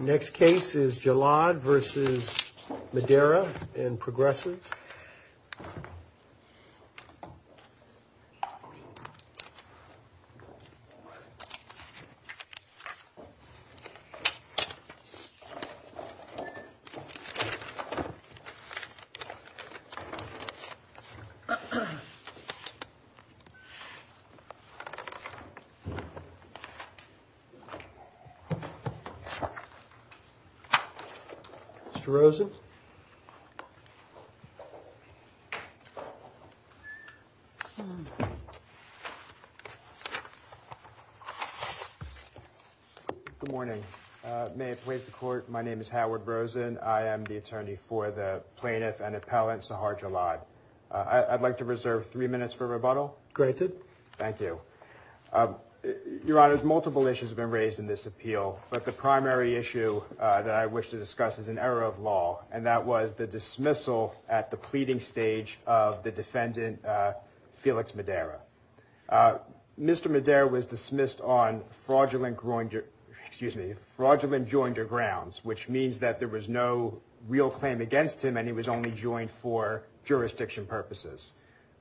Next case is Jallad v. Madera and Progressive. Mr. Rosen. Good morning. May it please the court, my name is Howard Rosen. I am the attorney for the plaintiff and appellant Sahad Jallad. I'd like to reserve three minutes for rebuttal. Granted. Thank you. Your Honor, multiple issues have been raised in this appeal, but the primary issue that I wish to discuss is an error of law, and that was the dismissal at the pleading stage of the defendant, Felix Madera. Mr. Madera was dismissed on fraudulent groin, excuse me, fraudulent joinder grounds, which means that there was no real claim against him and he was only joined for jurisdiction purposes.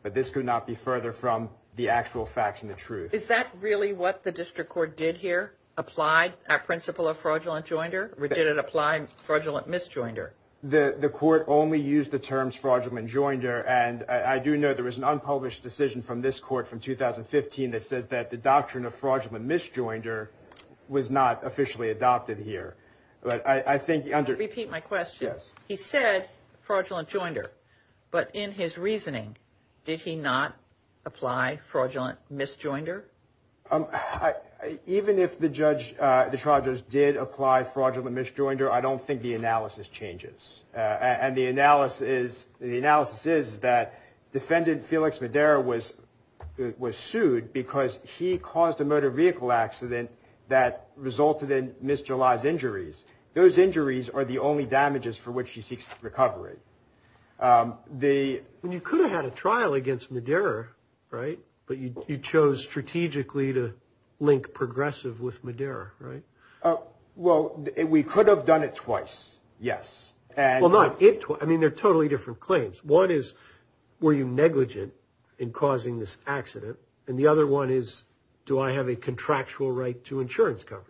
But this could not be further from the actual facts and the truth. Is that really what the district court did here, applied a principle of fraudulent joinder, or did it apply fraudulent misjoinder? The court only used the terms fraudulent joinder, and I do know there was an unpublished decision from this court from 2015 that says that the doctrine of fraudulent misjoinder was not officially adopted here. Repeat my question. He said fraudulent joinder, but in his reasoning, did he not apply fraudulent misjoinder? Even if the judge, the charges did apply fraudulent misjoinder, I don't think the analysis changes. And the analysis is that defendant Felix Madera was sued because he caused a motor vehicle accident that resulted in Ms. July's injuries. Those injuries are the only damages for which she seeks recovery. You could have had a trial against Madera, right? But you chose strategically to link progressive with Madera, right? Well, we could have done it twice, yes. I mean, they're totally different claims. One is, were you negligent in causing this accident? And the other one is, do I have a contractual right to insurance coverage?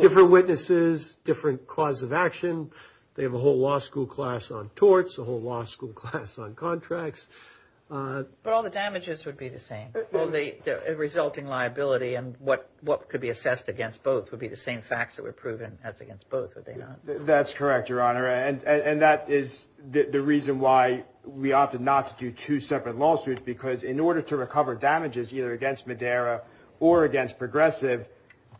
Different witnesses, different cause of action. They have a whole law school class on torts, a whole law school class on contracts. But all the damages would be the same. The resulting liability and what could be assessed against both would be the same facts that were proven as against both, would they not? That's correct, Your Honor. And that is the reason why we opted not to do two separate lawsuits, because in order to recover damages either against Madera or against progressive,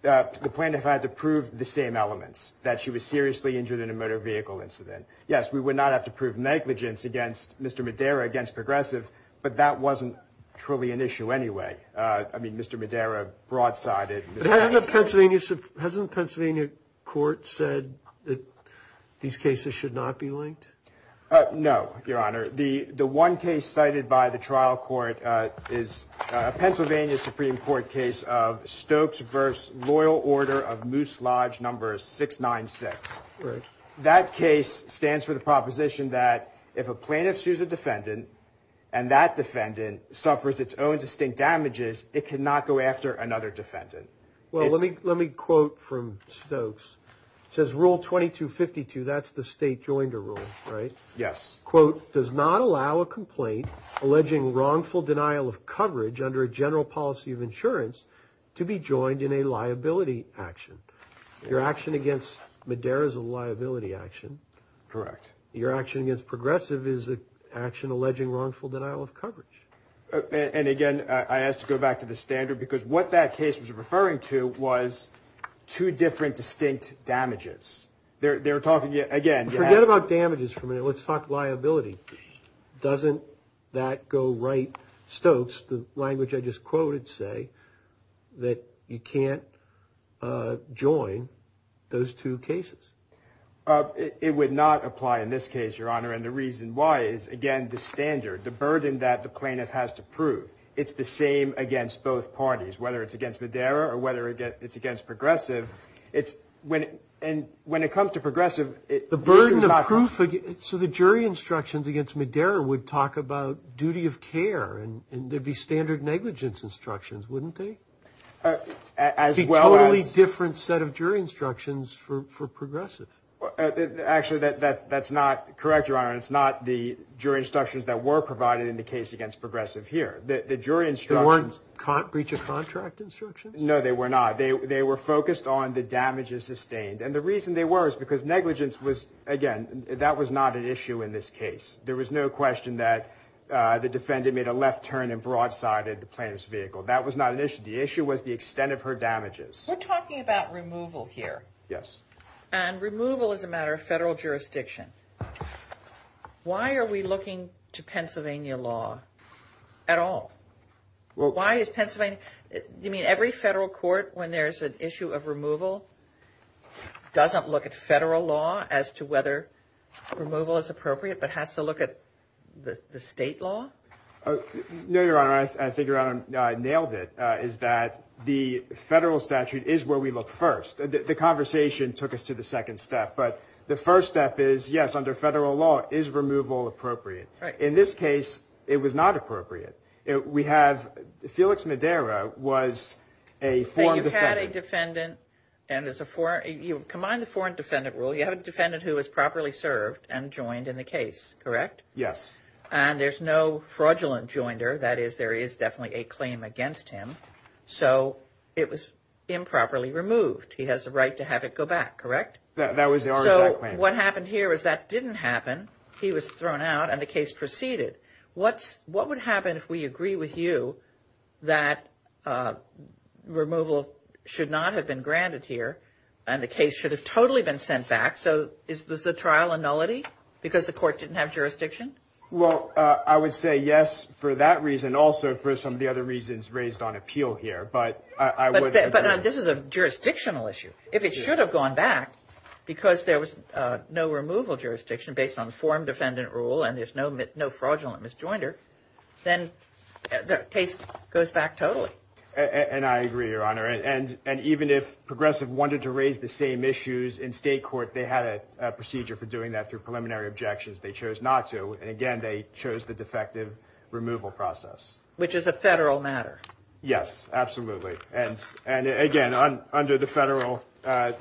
the plaintiff had to prove the same elements, that she was seriously injured in a motor vehicle incident. Yes, we would not have to prove negligence against Mr. Madera, against progressive, but that wasn't truly an issue anyway. I mean, Mr. Madera broadsided. But hasn't the Pennsylvania court said that these cases should not be linked? No, Your Honor. The one case cited by the trial court is a Pennsylvania Supreme Court case of Stokes v. Loyal Order of Moose Lodge, number 696. That case stands for the proposition that if a plaintiff sues a defendant and that defendant suffers its own distinct damages, it cannot go after another defendant. Well, let me quote from Stokes. It says Rule 2252, that's the state joinder rule, right? Yes. Quote, does not allow a complaint alleging wrongful denial of coverage under a general policy of insurance to be joined in a liability action. Your action against Madera is a liability action. Correct. Your action against progressive is an action alleging wrongful denial of coverage. And again, I asked to go back to the standard because what that case was referring to was two different distinct damages. They're talking again. Forget about damages for a minute. Let's talk liability. Doesn't that go right? Stokes, the language I just quoted, say that you can't join those two cases. It would not apply in this case, Your Honor. And the reason why is, again, the standard, the burden that the plaintiff has to prove. It's the same against both parties, whether it's against Madera or whether it's against progressive. It's when and when it comes to progressive, the burden of proof. So the jury instructions against Madera would talk about duty of care and there'd be standard negligence instructions, wouldn't they? A totally different set of jury instructions for progressive. Actually, that's not correct, Your Honor. It's not the jury instructions that were provided in the case against progressive here. The jury instructions weren't breach of contract instructions. No, they were not. They were focused on the damages sustained. And the reason they were is because negligence was again, that was not an issue in this case. There was no question that the defendant made a left turn and broadsided the plaintiff's vehicle. That was not an issue. The issue was the extent of her damages. We're talking about removal here. Yes. And removal is a matter of federal jurisdiction. Why are we looking to Pennsylvania law at all? Well, why is Pennsylvania? You mean every federal court, when there's an issue of removal, doesn't look at federal law as to whether removal is appropriate, but has to look at the state law? No, Your Honor. I think Your Honor nailed it, is that the federal statute is where we look first. The conversation took us to the second step. But the first step is, yes, under federal law, is removal appropriate? In this case, it was not appropriate. We have Felix Madera was a foreign defendant. And you had a defendant, and there's a foreign, you combine the foreign defendant rule, you have a defendant who was properly served and joined in the case, correct? Yes. And there's no fraudulent joinder. That is, there is definitely a claim against him. So it was improperly removed. He has the right to have it go back, correct? That was our plan. So what happened here is that didn't happen. He was thrown out and the case proceeded. What's what would happen if we agree with you that removal should not have been granted here? And the case should have totally been sent back. So is this a trial and nullity because the court didn't have jurisdiction? Well, I would say yes for that reason. Also, for some of the other reasons raised on appeal here. But this is a jurisdictional issue. If it should have gone back because there was no removal jurisdiction based on the foreign defendant rule and there's no fraudulent misjoinder, then the case goes back totally. And I agree, Your Honor. And and even if progressive wanted to raise the same issues in state court, they had a procedure for doing that through preliminary objections. They chose not to. And again, they chose the defective removal process, which is a federal matter. Yes, absolutely. And and again, under the federal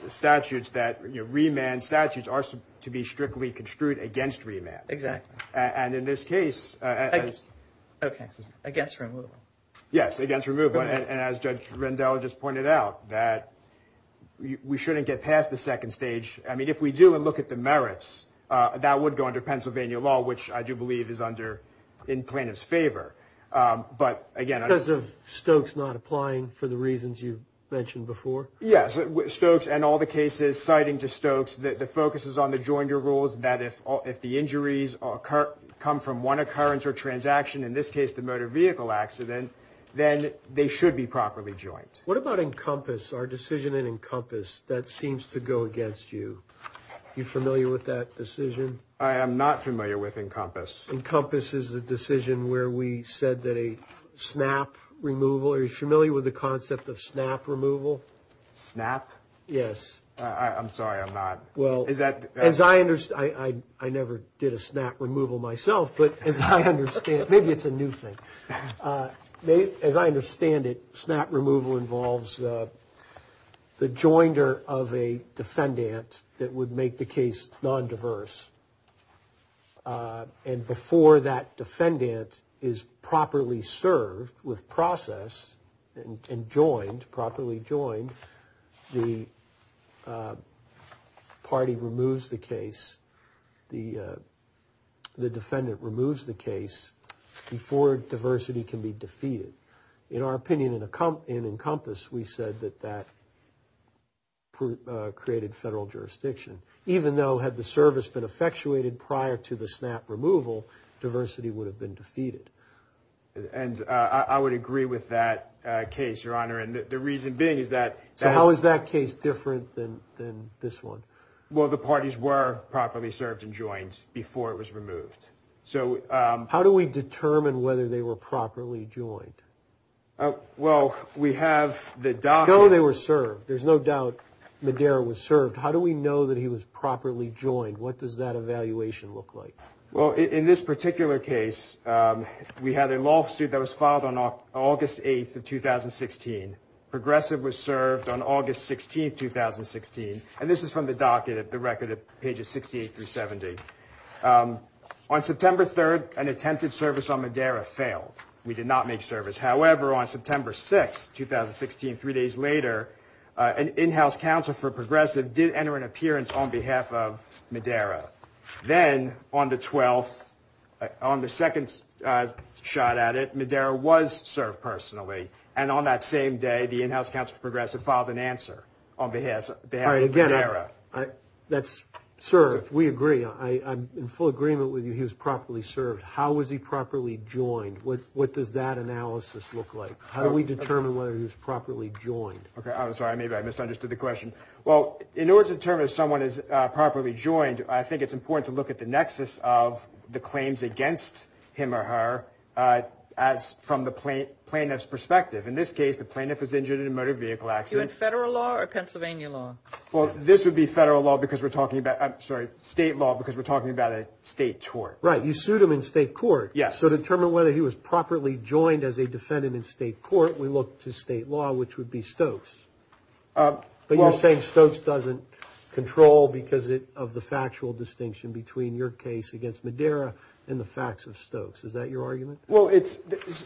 statutes that remand statutes are to be strictly construed against remand. Exactly. And in this case, OK, I guess. Yes, against removal. And as Judge Rendell just pointed out that we shouldn't get past the second stage. I mean, if we do and look at the merits that would go under Pennsylvania law, which I do believe is under in plaintiff's favor. But again, because of Stokes not applying for the reasons you mentioned before. Yes. Stokes and all the cases citing to Stokes that the focus is on the join your rules, that if all if the injuries occur, come from one occurrence or transaction, in this case, the motor vehicle accident, then they should be properly joined. What about Encompass, our decision in Encompass that seems to go against you? You familiar with that decision? I am not familiar with Encompass. Encompass is a decision where we said that a snap removal. Are you familiar with the concept of snap removal? Snap? Yes. I'm sorry. I'm not. Well, is that as I understand? I never did a snap removal myself. But as I understand it, maybe it's a new thing. As I understand it, snap removal involves the joinder of a defendant that would make the case non-diverse. And before that defendant is properly served with process and joined, properly joined, the party removes the case. The defendant removes the case before diversity can be defeated. In our opinion, in Encompass, we said that that created federal jurisdiction. Even though had the service been effectuated prior to the snap removal, diversity would have been defeated. And I would agree with that case, Your Honor. And the reason being is that. So how is that case different than this one? Well, the parties were properly served and joined before it was removed. So how do we determine whether they were properly joined? Well, we have the doc. No, they were served. There's no doubt Madera was served. How do we know that he was properly joined? What does that evaluation look like? Well, in this particular case, we had a lawsuit that was filed on August 8th of 2016. Progressive was served on August 16th, 2016. And this is from the docket at the record of pages 68 through 70. On September 3rd, an attempted service on Madera failed. We did not make service. However, on September 6th, 2016, three days later, an in-house counsel for Progressive did enter an appearance on behalf of Madera. Then on the 12th, on the second shot at it, Madera was served personally. And on that same day, the in-house counsel for Progressive filed an answer on behalf of Madera. That's, sir, we agree. I'm in full agreement with you. He was properly served. How was he properly joined? What does that analysis look like? How do we determine whether he was properly joined? I'm sorry. Maybe I misunderstood the question. Well, in order to determine if someone is properly joined, I think it's important to look at the nexus of the claims against him or her as from the plaintiff's perspective. In this case, the plaintiff was injured in a motor vehicle accident. You mean federal law or Pennsylvania law? Well, this would be federal law because we're talking about, I'm sorry, state law because we're talking about a state court. Right. You sued him in state court. Yes. To determine whether he was properly joined as a defendant in state court, we look to state law, which would be Stokes. But you're saying Stokes doesn't control because of the factual distinction between your case against Madera and the facts of Stokes. Is that your argument? Well,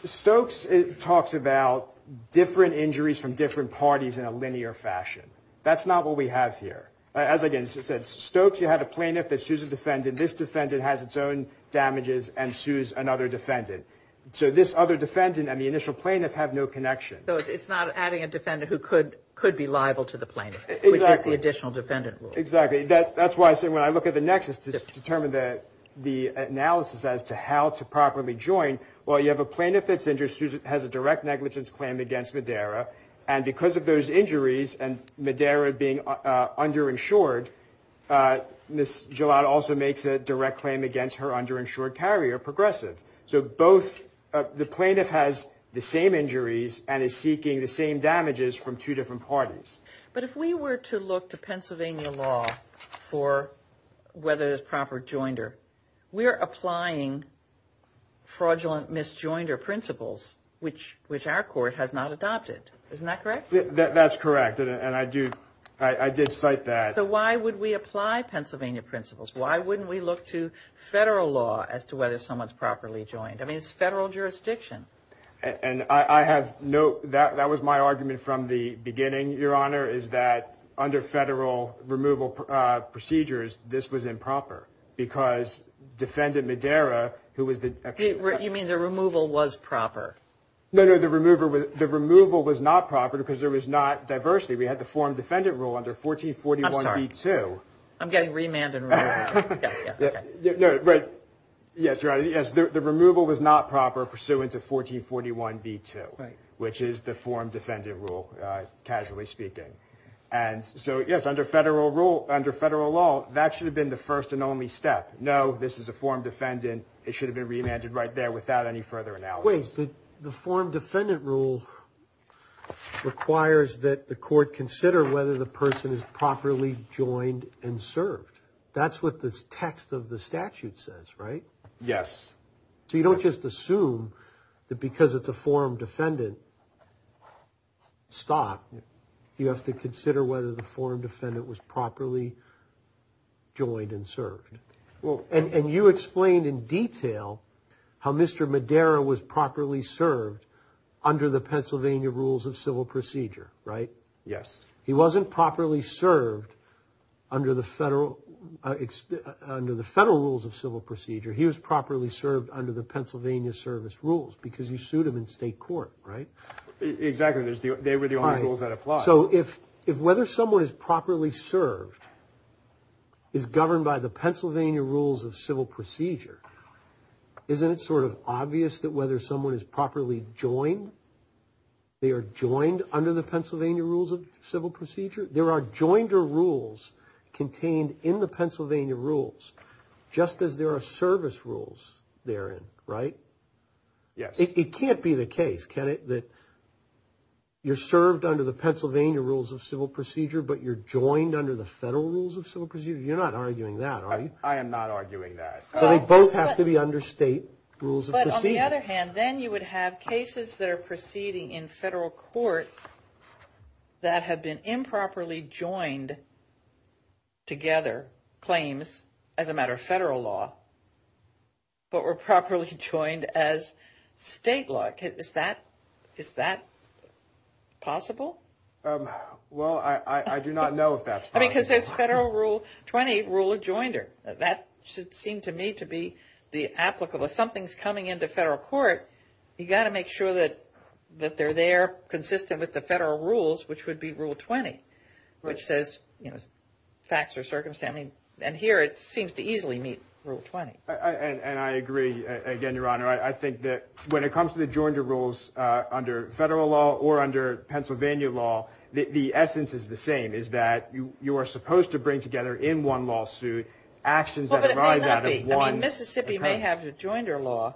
Stokes talks about different injuries from different parties in a linear fashion. That's not what we have here. As I said, Stokes, you had a plaintiff that sues a defendant. This defendant has its own damages and sues another defendant. So this other defendant and the initial plaintiff have no connection. So it's not adding a defendant who could be liable to the plaintiff, which is the additional defendant rule. Exactly. That's why I say when I look at the nexus to determine the analysis as to how to properly join, well, you have a plaintiff that's injured, has a direct negligence claim against Madera. And because of those injuries and Madera being underinsured, Ms. Gillotte also makes a direct claim against her underinsured carrier, Progressive. The plaintiff has the same injuries and is seeking the same damages from two different parties. But if we were to look to Pennsylvania law for whether there's proper joinder, we're applying fraudulent misjoinder principles, which which our court has not adopted. Isn't that correct? That's correct. And I do. I did cite that. Why would we apply Pennsylvania principles? Why wouldn't we look to federal law as to whether someone's properly joined? I mean, it's federal jurisdiction. And I have no doubt that was my argument from the beginning. Your Honor, is that under federal removal procedures, this was improper because defendant Madera, who was the. You mean the removal was proper? No, no, the remover with the removal was not proper because there was not diversity. We had the form defendant rule under 1440. I'm sorry, too. I'm getting remanded. Right. Yes. Right. Yes. The removal was not proper pursuant to 1441 B2, which is the form defendant rule, casually speaking. And so, yes, under federal rule, under federal law, that should have been the first and only step. No, this is a form defendant. It should have been remanded right there without any further analysis. The form defendant rule requires that the court consider whether the person is properly joined and served. That's what this text of the statute says, right? Yes. So you don't just assume that because it's a form defendant. Stop. You have to consider whether the form defendant was properly joined and served. Well, and you explained in detail how Mr. Madera was properly served under the Pennsylvania rules of civil procedure, right? Yes. He wasn't properly served under the federal under the federal rules of civil procedure. He was properly served under the Pennsylvania service rules because you sued him in state court. Right. Exactly. They were the only rules that apply. So if if whether someone is properly served is governed by the Pennsylvania rules of civil procedure, isn't it sort of obvious that whether someone is properly joined, they are joined under the Pennsylvania rules of civil procedure? There are joined rules contained in the Pennsylvania rules just as there are service rules there. Right. Yes. It can't be the case that you're served under the Pennsylvania rules of civil procedure, but you're joined under the federal rules of civil procedure. You're not arguing that. I am not arguing that they both have to be under state rules. But on the other hand, then you would have cases that are proceeding in federal court that have been improperly joined. Together, claims as a matter of federal law. But we're properly joined as state law. Is that is that possible? Well, I do not know if that's because there's federal rule. Twenty eight rule of joinder. That seemed to me to be the applicable. If something's coming into federal court, you've got to make sure that that they're there consistent with the federal rules, which would be rule 20, which says, you know, facts or circumstance. I mean, and here it seems to easily meet rule 20. And I agree again, Your Honor. I think that when it comes to the joinder rules under federal law or under Pennsylvania law, the essence is the same, is that you are supposed to bring together in one lawsuit actions that arise out of one. Mississippi may have a joinder law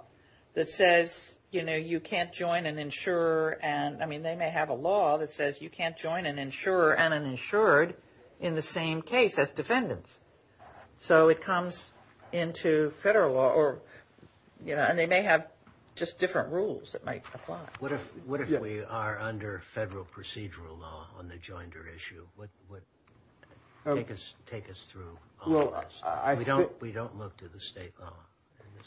that says, you know, you can't join an insurer. And I mean, they may have a law that says you can't join an insurer and an insured in the same case as defendants. So it comes into federal law or, you know, and they may have just different rules that might apply. What if what if we are under federal procedural law on the joinder issue? What would take us take us through? Well, I don't we don't look to the state.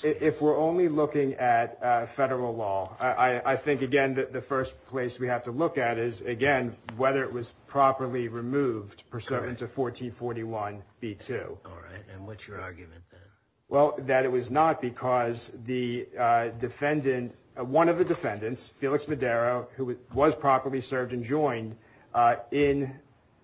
If we're only looking at federal law, I think, again, the first place we have to look at is, again, whether it was properly removed pursuant to 1441 B2. All right. And what's your argument? Well, that it was not because the defendant, one of the defendants, Felix Madero, who was properly served and joined in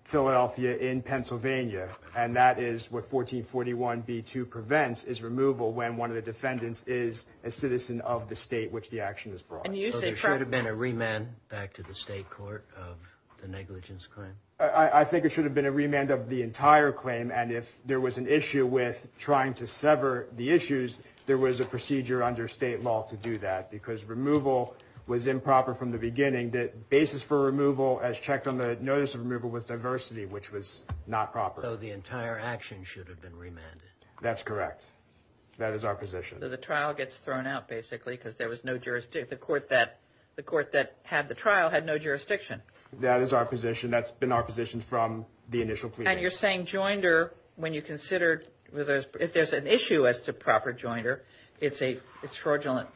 Philadelphia, in Pennsylvania. And that is what 1441 B2 prevents is removal when one of the defendants is a citizen of the state which the action is brought. And you say there should have been a remand back to the state court of the negligence claim. I think it should have been a remand of the entire claim. And if there was an issue with trying to sever the issues, there was a procedure under state law to do that because removal was improper from the beginning. That basis for removal as checked on the notice of removal with diversity, which was not proper. So the entire action should have been remanded. That's correct. That is our position. The trial gets thrown out basically because there was no jurisdiction. The court that the court that had the trial had no jurisdiction. That is our position. That's been our position from the initial. And you're saying joinder when you consider whether there's an issue as to proper joinder. It's a fraudulent,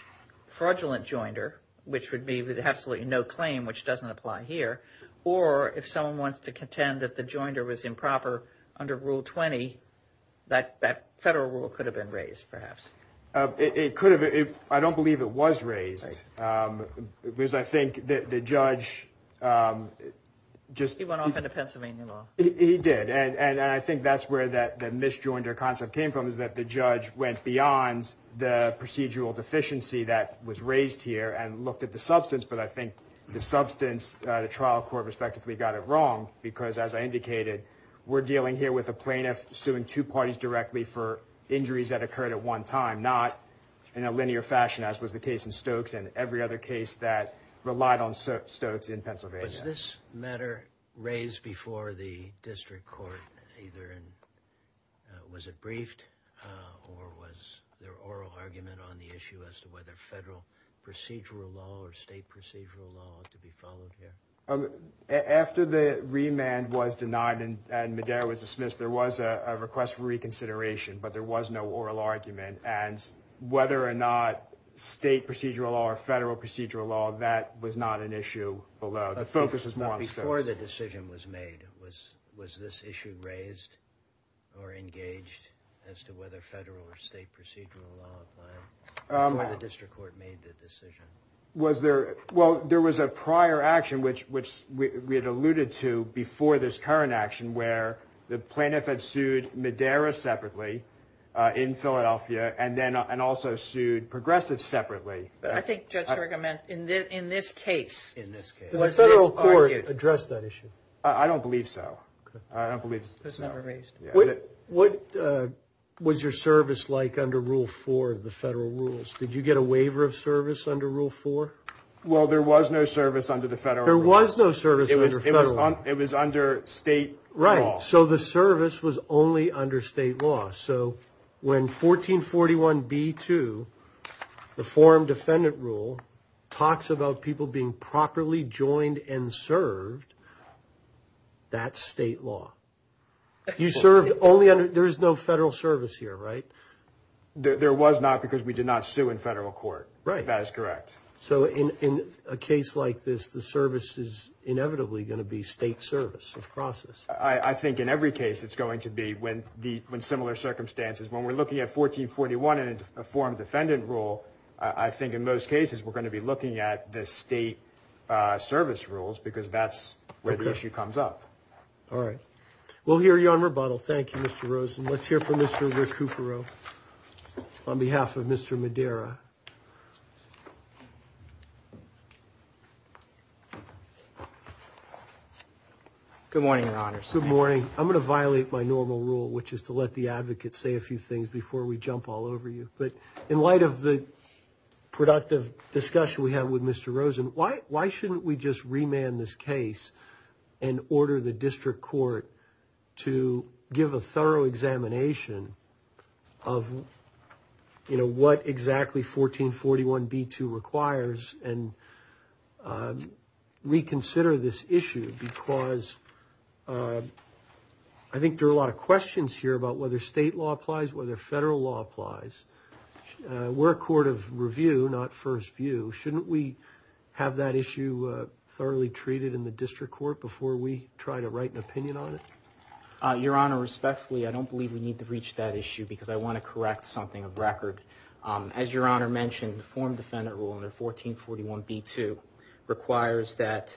fraudulent joinder, which would be absolutely no claim, which doesn't apply here. Or if someone wants to contend that the joinder was improper under Rule 20, that that federal rule could have been raised. Perhaps it could have. I don't believe it was raised because I think that the judge just went off into Pennsylvania. He did. And I think that's where that the misjoinder concept came from, is that the judge went beyond the procedural deficiency that was raised here and looked at the substance. But I think the substance, the trial court respectively, got it wrong because, as I indicated, we're dealing here with a plaintiff suing two parties directly for injuries that occurred at one time, not in a linear fashion, as was the case in Stokes and every other case that relied on Stokes in Pennsylvania. Was this matter raised before the district court either? And was it briefed? Or was there oral argument on the issue as to whether federal procedural law or state procedural law to be followed here? After the remand was denied and Medea was dismissed, there was a request for reconsideration, but there was no oral argument. And whether or not state procedural or federal procedural law, that was not an issue. The focus is more on Stokes. Before the decision was made, was this issue raised or engaged as to whether federal or state procedural law applied before the district court made the decision? Well, there was a prior action, which we had alluded to before this current action, where the plaintiff had sued Medea separately in Philadelphia and also sued Progressive separately. I think Judge Serga meant in this case. In this case. Did the federal court address that issue? I don't believe so. I don't believe so. It was never raised. What was your service like under Rule 4 of the federal rules? Did you get a waiver of service under Rule 4? Well, there was no service under the federal rules. There was no service under federal. It was under state law. Right. So the service was only under state law. So when 1441 B2, the forum defendant rule, talks about people being properly joined and served. That's state law. You served only under there is no federal service here, right? There was not because we did not sue in federal court. Right. That is correct. So in a case like this, the service is inevitably going to be state service. Process. I think in every case it's going to be when the when similar circumstances when we're looking at 1441 and a form defendant rule. I think in most cases we're going to be looking at the state service rules because that's where the issue comes up. All right. We'll hear you on rebuttal. Thank you, Mr. Rosen. Let's hear from Mr. Cooper on behalf of Mr. Madera. Good morning, your honor. Good morning. I'm going to violate my normal rule, which is to let the advocates say a few things before we jump all over you. But in light of the productive discussion we have with Mr. Rosen, why? Why shouldn't we just remand this case and order the district court to give a thorough examination of what exactly 1441 B2 requires and reconsider this issue? Because I think there are a lot of questions here about whether state law applies, whether federal law applies. We're a court of review, not first view. Shouldn't we have that issue thoroughly treated in the district court before we try to write an opinion on it? Your honor, respectfully, I don't believe we need to reach that issue because I want to correct something of record. As your honor mentioned, the form defendant rule under 1441 B2 requires that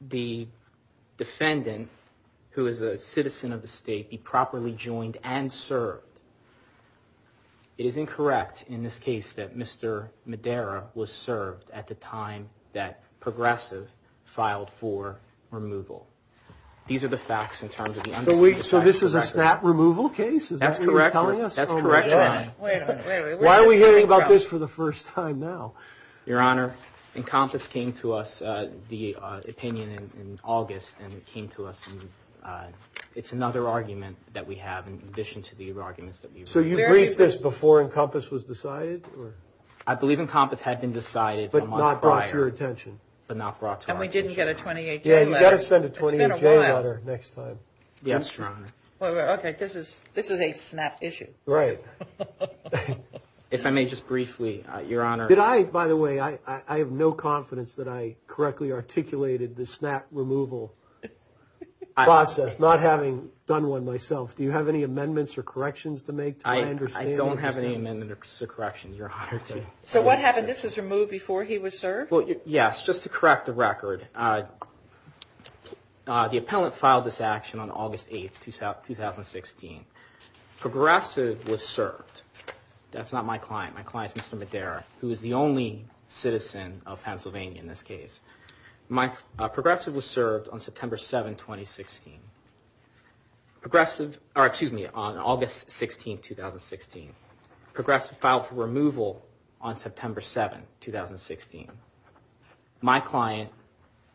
the defendant, who is a citizen of the state, be properly joined and served. It is incorrect in this case that Mr. Madera was served at the time that Progressive filed for removal. These are the facts in terms of the unsubstantiated record. So this is a stat removal case? That's correct. Why are we hearing about this for the first time now? Your honor, Encompass came to us, the opinion in August, and came to us. It's another argument that we have in addition to the arguments that we wrote. So you briefed this before Encompass was decided? I believe Encompass had been decided a month prior. But not brought to your attention? But not brought to our attention. And we didn't get a 28-J letter. Yeah, you've got to send a 28-J letter next time. Yes, your honor. Okay, this is a snap issue. Right. If I may just briefly, your honor. Did I, by the way, I have no confidence that I correctly articulated the snap removal process, not having done one myself. Do you have any amendments or corrections to make? I don't have any amendments or corrections, your honor. So what happened? Yes, just to correct the record. The appellant filed this action on August 8, 2016. Progressive was served. That's not my client. My client is Mr. Madera, who is the only citizen of Pennsylvania in this case. Progressive was served on August 16, 2016. Progressive filed for removal on September 7, 2016. My client,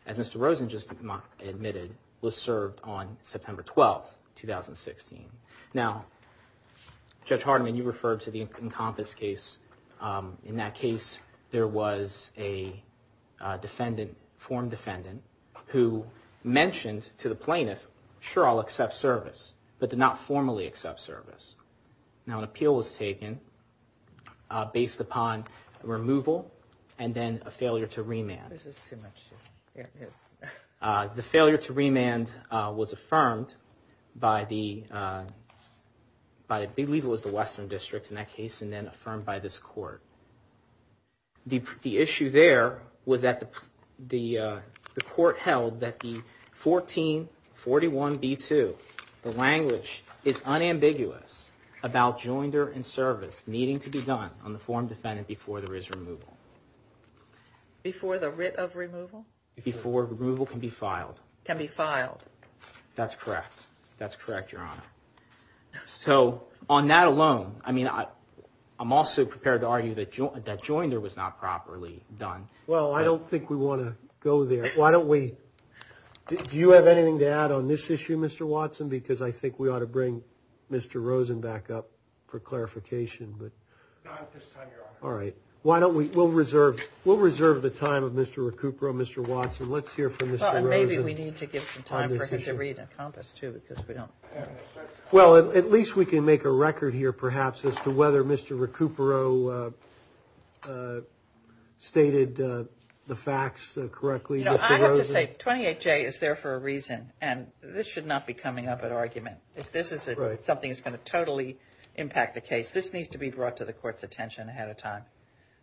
as Mr. Rosen just admitted, was served on September 12, 2016. Now, Judge Hardiman, you referred to the Encompass case. In that case, there was a form defendant who mentioned to the plaintiff, sure, I'll accept service, but did not formally accept service. Now, an appeal was taken based upon removal and then a failure to remand. The failure to remand was affirmed by, I believe it was the Western District in that case, and then affirmed by this court. The issue there was that the court held that the 1441b2, the language, is unambiguous about joinder and service needing to be done on the form defendant before there is removal. Before the writ of removal? Before removal can be filed. Can be filed. That's correct. That's correct, your honor. So on that alone, I mean, I'm also prepared to argue that joinder was not properly done. Well, I don't think we want to go there. Why don't we, do you have anything to add on this issue, Mr. Watson? Because I think we ought to bring Mr. Rosen back up for clarification. Not at this time, your honor. All right. Why don't we, we'll reserve the time of Mr. Recupero, Mr. Watson. Let's hear from Mr. Rosen on this issue. Well, at least we can make a record here, perhaps, as to whether Mr. Recupero stated the facts correctly. You know, I have to say, 28J is there for a reason, and this should not be coming up at argument. If this is something that's going to totally impact the case, this needs to be brought to the court's attention ahead of time.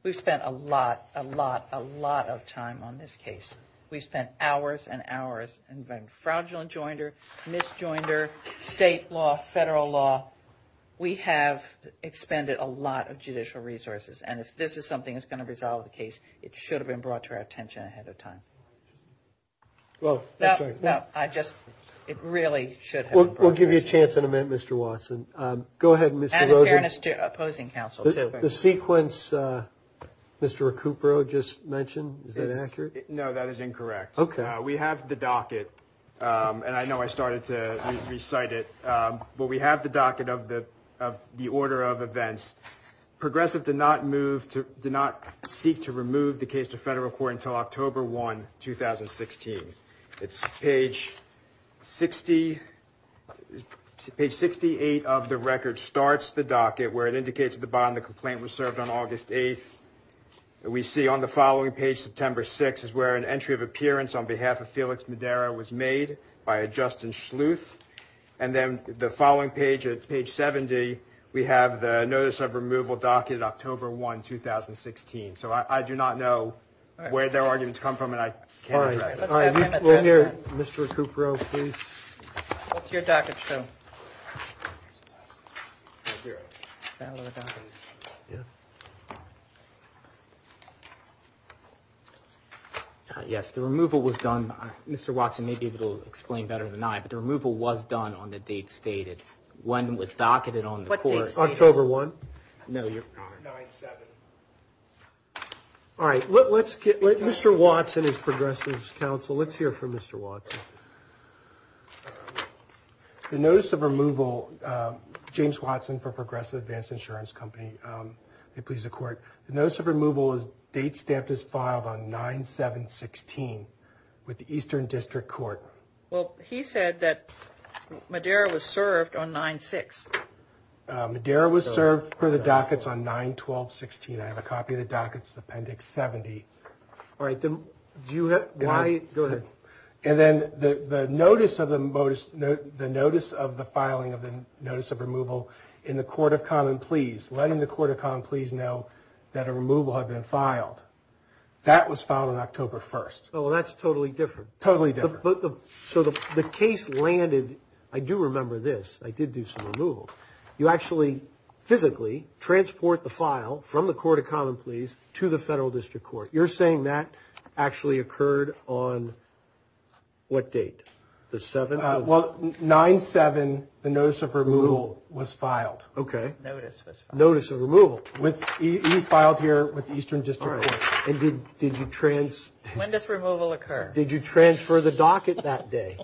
We've spent a lot, a lot, a lot of time on this case. We've spent hours and hours on fraudulent joinder, misjoinder, state law, federal law. We have expended a lot of judicial resources. And if this is something that's going to resolve the case, it should have been brought to our attention ahead of time. Well, that's right. No, I just, it really should have been brought to our attention. We'll give you a chance in a minute, Mr. Watson. Go ahead, Mr. Rosen. Added fairness to opposing counsel, too. The sequence Mr. Recupero just mentioned, is that accurate? No, that is incorrect. Okay. We have the docket, and I know I started to recite it, but we have the docket of the order of events. Progressive did not move, did not seek to remove the case to federal court until October 1, 2016. It's page 60, page 68 of the record starts the docket where it indicates at the bottom the complaint was served on August 8th. We see on the following page, September 6th, is where an entry of appearance on behalf of Felix Madera was made by Justin Schluth. And then the following page, at page 70, we have the notice of removal docketed October 1, 2016. So I do not know where their arguments come from, and I can't address it. Let's have him address it. Mr. Recupero, please. What's your docket show? Yes, the removal was done. Mr. Watson may be able to explain better than I, but the removal was done on the date stated. When it was docketed on the court. October 1? No, your honor. 9-7. All right. Let's get Mr. Watson, as progressive's counsel, let's hear from Mr. Watson. The notice of removal, James Watson for Progressive Advanced Insurance Company, may it please the court. The notice of removal is date stamped as filed on 9-7-16 with the Eastern District Court. Well, he said that Madera was served on 9-6. Madera was served for the dockets on 9-12-16. I have a copy of the dockets, appendix 70. All right. Go ahead. And then the notice of the filing of the notice of removal in the Court of Common Pleas, letting the Court of Common Pleas know that a removal had been filed, that was filed on October 1. Well, that's totally different. Totally different. So the case landed, I do remember this, I did do some removal. You actually physically transport the file from the Court of Common Pleas to the Federal District Court. You're saying that actually occurred on what date? The 7th? Well, 9-7, the notice of removal was filed. Okay. Notice was filed. Notice of removal. He filed here with the Eastern District Court. All right. And did you transfer? When does removal occur? Did you transfer the docket that day?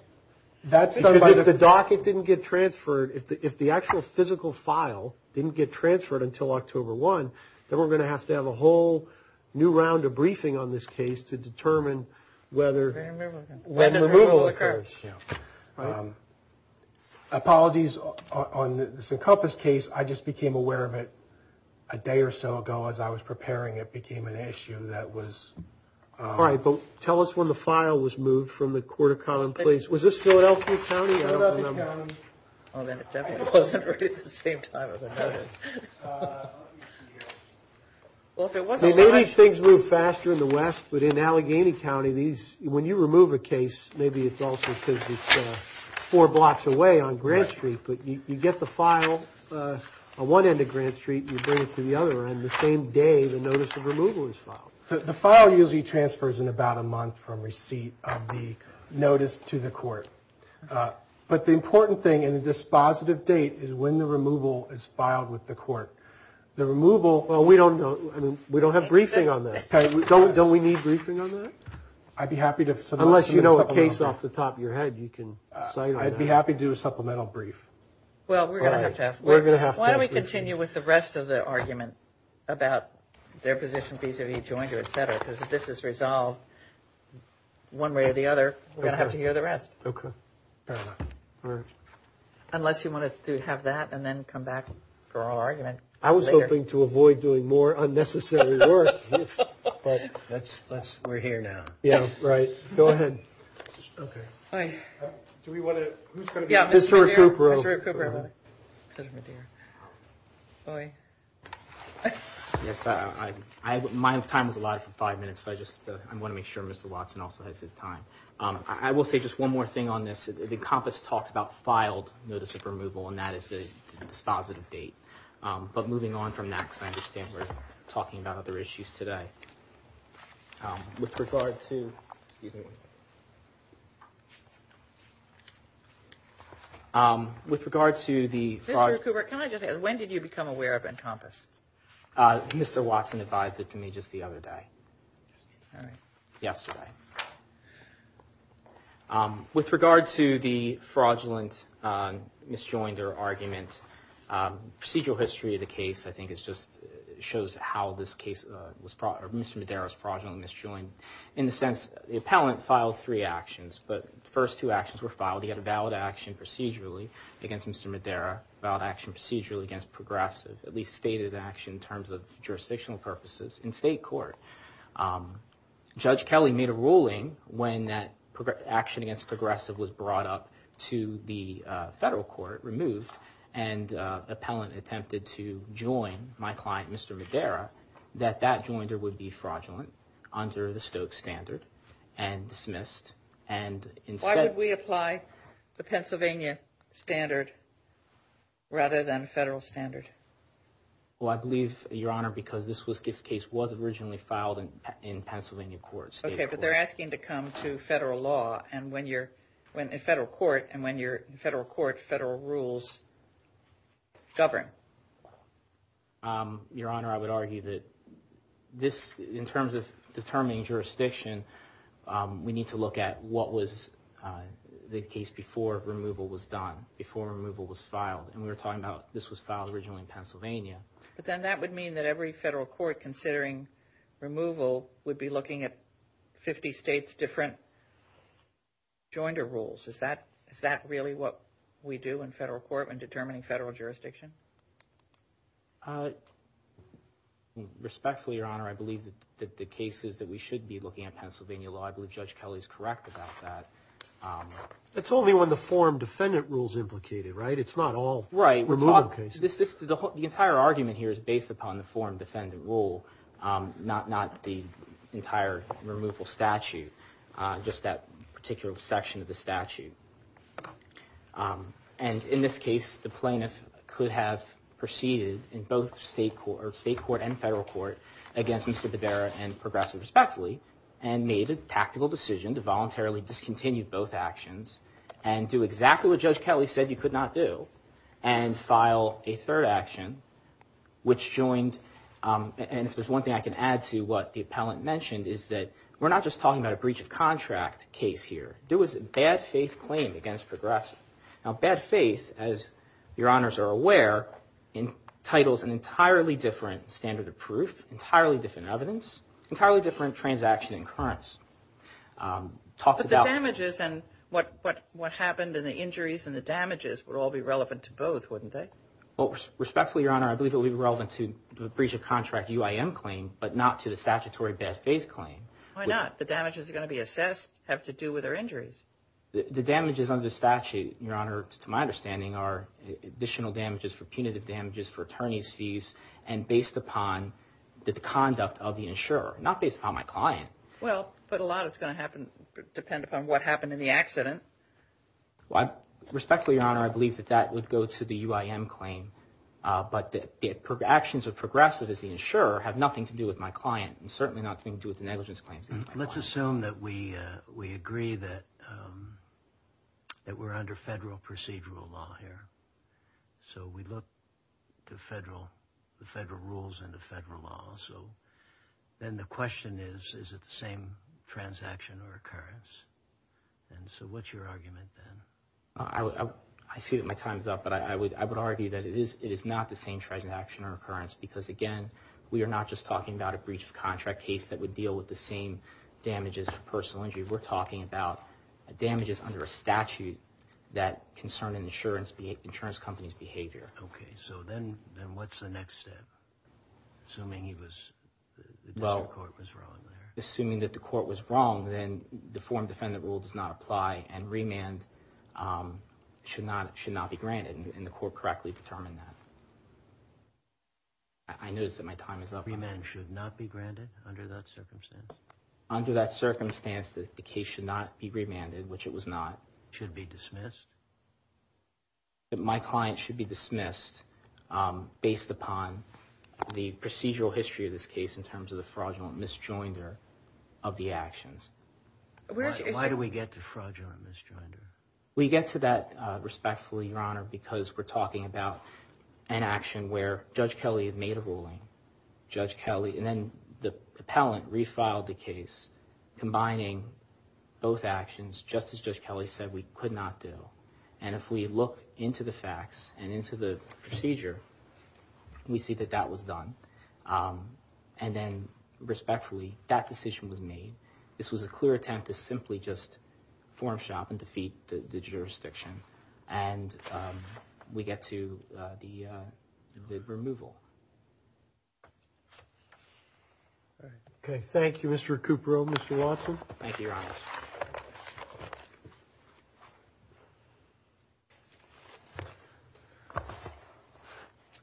Because if the docket didn't get transferred, if the actual physical file didn't get transferred until October 1, then we're going to have to have a whole new round of briefing on this case to determine whether removal occurs. Apologies on this Encompass case, I just became aware of it a day or so ago as I was preparing it, it became an issue that was... All right, but tell us when the file was moved from the Court of Common Pleas. Was this Philadelphia County? Philadelphia County. Oh, then it definitely wasn't right at the same time of the notice. Maybe things move faster in the West, but in Allegheny County, when you remove a case, maybe it's also because it's four blocks away on Grant Street, but you get the file on one end of Grant Street and you bring it to the other end the same day the notice of removal is filed. The file usually transfers in about a month from receipt of the notice to the court. But the important thing in the dispositive date is when the removal is filed with the court. The removal, well, we don't have briefing on that. Don't we need briefing on that? I'd be happy to... Unless you know a case off the top of your head, you can cite it. I'd be happy to do a supplemental brief. Well, we're going to have to. We're going to have to. Why don't we continue with the rest of the argument about their position vis-a-vis Joiner, et cetera, because if this is resolved one way or the other, we're going to have to hear the rest. Okay. Unless you want to have that and then come back for our argument. I was hoping to avoid doing more unnecessary work. We're here now. Yeah, right. Go ahead. Okay. Who's going to be... Mr. Recupero. Mr. Recupero. Judge Medea. Yes, my time is allotted for five minutes, so I just want to make sure Mr. Watson also has his time. I will say just one more thing on this. The compass talks about filed notice of removal, and that is the dispositive date. But moving on from that, because I understand we're talking about other issues today. With regard to... Excuse me. Excuse me. With regard to the fraud... Mr. Recupero, can I just ask, when did you become aware of Encompass? Mr. Watson advised it to me just the other day. All right. Yesterday. With regard to the fraudulent misjoinder argument, procedural history of the case, I think, just shows how this case was... Mr. Madera was fraudulently misjoined. In the sense, the appellant filed three actions, but the first two actions were filed. He had a valid action procedurally against Mr. Madera, a valid action procedurally against Progressive, at least stated action in terms of jurisdictional purposes in state court. Judge Kelly made a ruling when that action against Progressive was brought up to the federal court, removed, and the appellant attempted to join my client, Mr. Madera, that that joinder would be fraudulent, under the Stokes standard, and dismissed, and instead... Why would we apply the Pennsylvania standard rather than federal standard? Well, I believe, Your Honor, because this case was originally filed in Pennsylvania court. Okay, but they're asking to come to federal law and federal court, and when you're in federal court, federal rules govern. Your Honor, I would argue that this, in terms of determining jurisdiction, we need to look at what was the case before removal was done, before removal was filed. And we were talking about this was filed originally in Pennsylvania. But then that would mean that every federal court, considering removal, would be looking at 50 states' different joinder rules. Is that really what we do in federal court when determining federal jurisdiction? Respectfully, Your Honor, I believe that the cases that we should be looking at Pennsylvania law, I believe Judge Kelly is correct about that. It's only when the form defendant rule is implicated, right? It's not all removal cases. The entire argument here is based upon the form defendant rule, not the entire removal statute. Just that particular section of the statute. And in this case, the plaintiff could have proceeded in both state court and federal court against Mr. Devera and Progressive, respectively, and made a tactical decision to voluntarily discontinue both actions and do exactly what Judge Kelly said you could not do and file a third action, which joined. And if there's one thing I can add to what the appellant mentioned is that we're not just talking about a breach of contract case here. There was a bad faith claim against Progressive. Now, bad faith, as Your Honors are aware, entitles an entirely different standard of proof, entirely different evidence, entirely different transaction occurrence. But the damages and what happened and the injuries and the damages would all be relevant to both, wouldn't they? Respectfully, Your Honor, I believe it would be relevant to the breach of contract UIM claim, but not to the statutory bad faith claim. Why not? The damages are going to be assessed, have to do with their injuries. The damages under the statute, Your Honor, to my understanding, are additional damages for punitive damages for attorney's fees and based upon the conduct of the insurer, not based upon my client. Well, but a lot is going to happen, depend upon what happened in the accident. Respectfully, Your Honor, I believe that that would go to the UIM claim, but the actions of Progressive as the insurer have nothing to do with my client and certainly nothing to do with the negligence claims. Let's assume that we agree that we're under federal procedural law here. So we look to the federal rules and the federal law. So then the question is, is it the same transaction or occurrence? And so what's your argument then? I see that my time is up, but I would argue that it is not the same transaction or occurrence because, again, we are not just talking about a breach of contract case that would deal with the same damages for personal injury. We're talking about damages under a statute that concern an insurance company's behavior. Okay, so then what's the next step, assuming the court was wrong there? Assuming that the court was wrong, then the form defendant rule does not apply and remand should not be granted, and the court correctly determined that. I notice that my time is up. Remand should not be granted under that circumstance? Under that circumstance, the case should not be remanded, which it was not. It should be dismissed? My client should be dismissed based upon the procedural history of this case in terms of the fraudulent misjoinder of the actions. Why do we get to fraudulent misjoinder? We get to that respectfully, Your Honor, because we're talking about an action where Judge Kelly had made a ruling. And then the appellant refiled the case, combining both actions, just as Judge Kelly said we could not do. And if we look into the facts and into the procedure, we see that that was done. And then respectfully, that decision was made. This was a clear attempt to simply just form shop and defeat the jurisdiction, and we get to the removal. Okay, thank you, Mr. Kuprow, Mr. Watson. Thank you, Your Honor.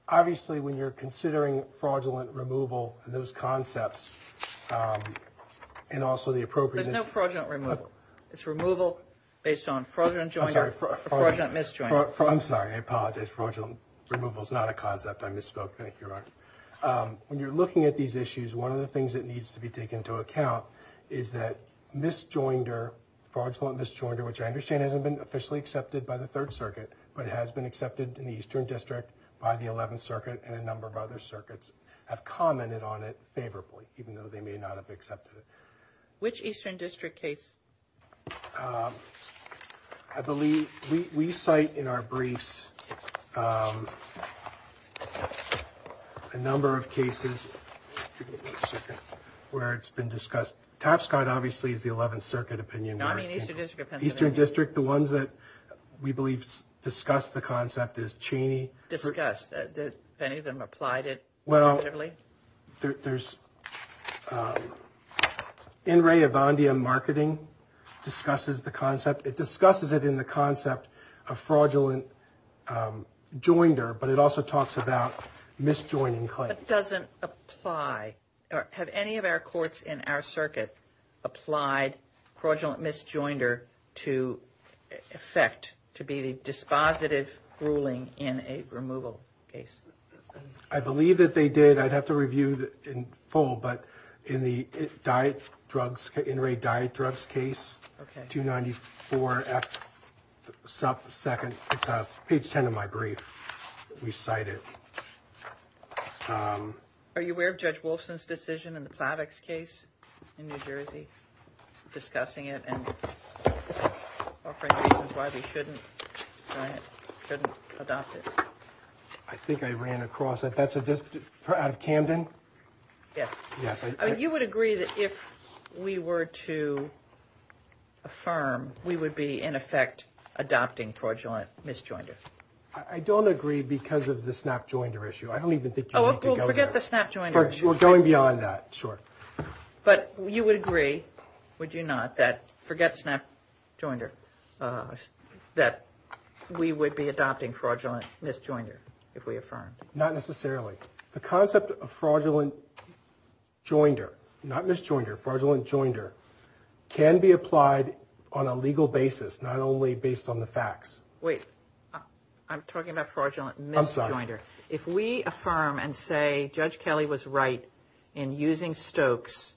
Obviously, when you're considering fraudulent removal and those concepts, and also the appropriateness of it. There's no fraudulent removal. It's removal based on fraudulent misjoinder. I'm sorry. I apologize. Fraudulent removal is not a concept. I misspoke. Thank you, Your Honor. When you're looking at these issues, one of the things that needs to be taken into account is that misjoining fraudulent misjoinder, which I understand hasn't been officially accepted by the Third Circuit, but it has been accepted in the Eastern District by the Eleventh Circuit and a number of other circuits have commented on it favorably, even though they may not have accepted it. Which Eastern District case? I believe we cite in our briefs a number of cases where it's been discussed. Tapscott, obviously, is the Eleventh Circuit opinion. Eastern District, the ones that we believe discuss the concept is Cheney. Discussed. Have any of them applied it? Well, there's In Re Evandia Marketing discusses the concept. It discusses it in the concept of fraudulent joinder, but it also talks about misjoining claims. That doesn't apply. Okay. Have any of our courts in our circuit applied fraudulent misjoinder to effect, to be the dispositive ruling in a removal case? I believe that they did. I'd have to review it in full, but in the diet drugs, in raid diet drugs case, 294F2, page 10 of my brief, we cite it. Are you aware of Judge Wolfson's decision in the Plavix case in New Jersey, discussing it and offering reasons why we shouldn't adopt it? I think I ran across it. That's out of Camden? Yes. You would agree that if we were to affirm, we would be, in effect, adopting fraudulent misjoinder? I don't agree because of the snap joinder issue. I don't even think you need to go there. Forget the snap joinder issue. We're going beyond that. Sure. But you would agree, would you not, that forget snap joinder, that we would be adopting fraudulent misjoinder if we affirmed? Not necessarily. The concept of fraudulent joinder, not misjoinder, fraudulent joinder, can be applied on a legal basis, not only based on the facts. Wait. I'm talking about fraudulent misjoinder. I'm sorry. Fraudulent misjoinder. If we affirm and say Judge Kelly was right in using Stokes,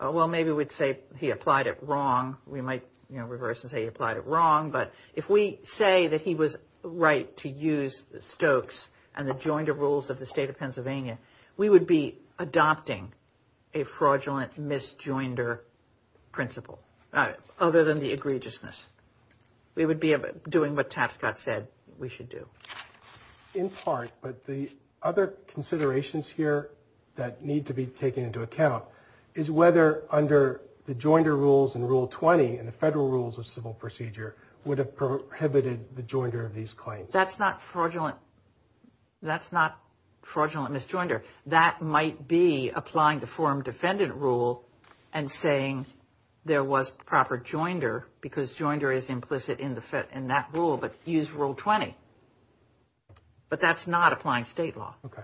well, maybe we'd say he applied it wrong. We might reverse and say he applied it wrong. But if we say that he was right to use Stokes and the joinder rules of the State of Pennsylvania, we would be adopting a fraudulent misjoinder principle, other than the egregiousness. We would be doing what Tapscott said we should do. In part, but the other considerations here that need to be taken into account is whether under the joinder rules in Rule 20 and the federal rules of civil procedure would have prohibited the joinder of these claims. That's not fraudulent misjoinder. That might be applying the forum defendant rule and saying there was proper joinder because joinder is implicit in that rule, but use Rule 20. But that's not applying state law. Okay.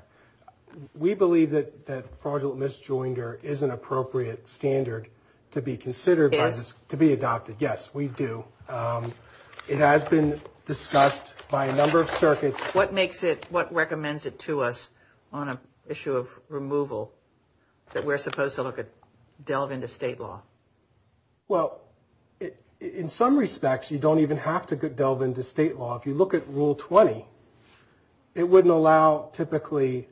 We believe that fraudulent misjoinder is an appropriate standard to be considered. Yes. To be adopted. Yes, we do. It has been discussed by a number of circuits. What makes it, what recommends it to us on an issue of removal that we're supposed to look at, delve into state law? Well, in some respects, you don't even have to delve into state law. If you look at Rule 20, it wouldn't allow typically,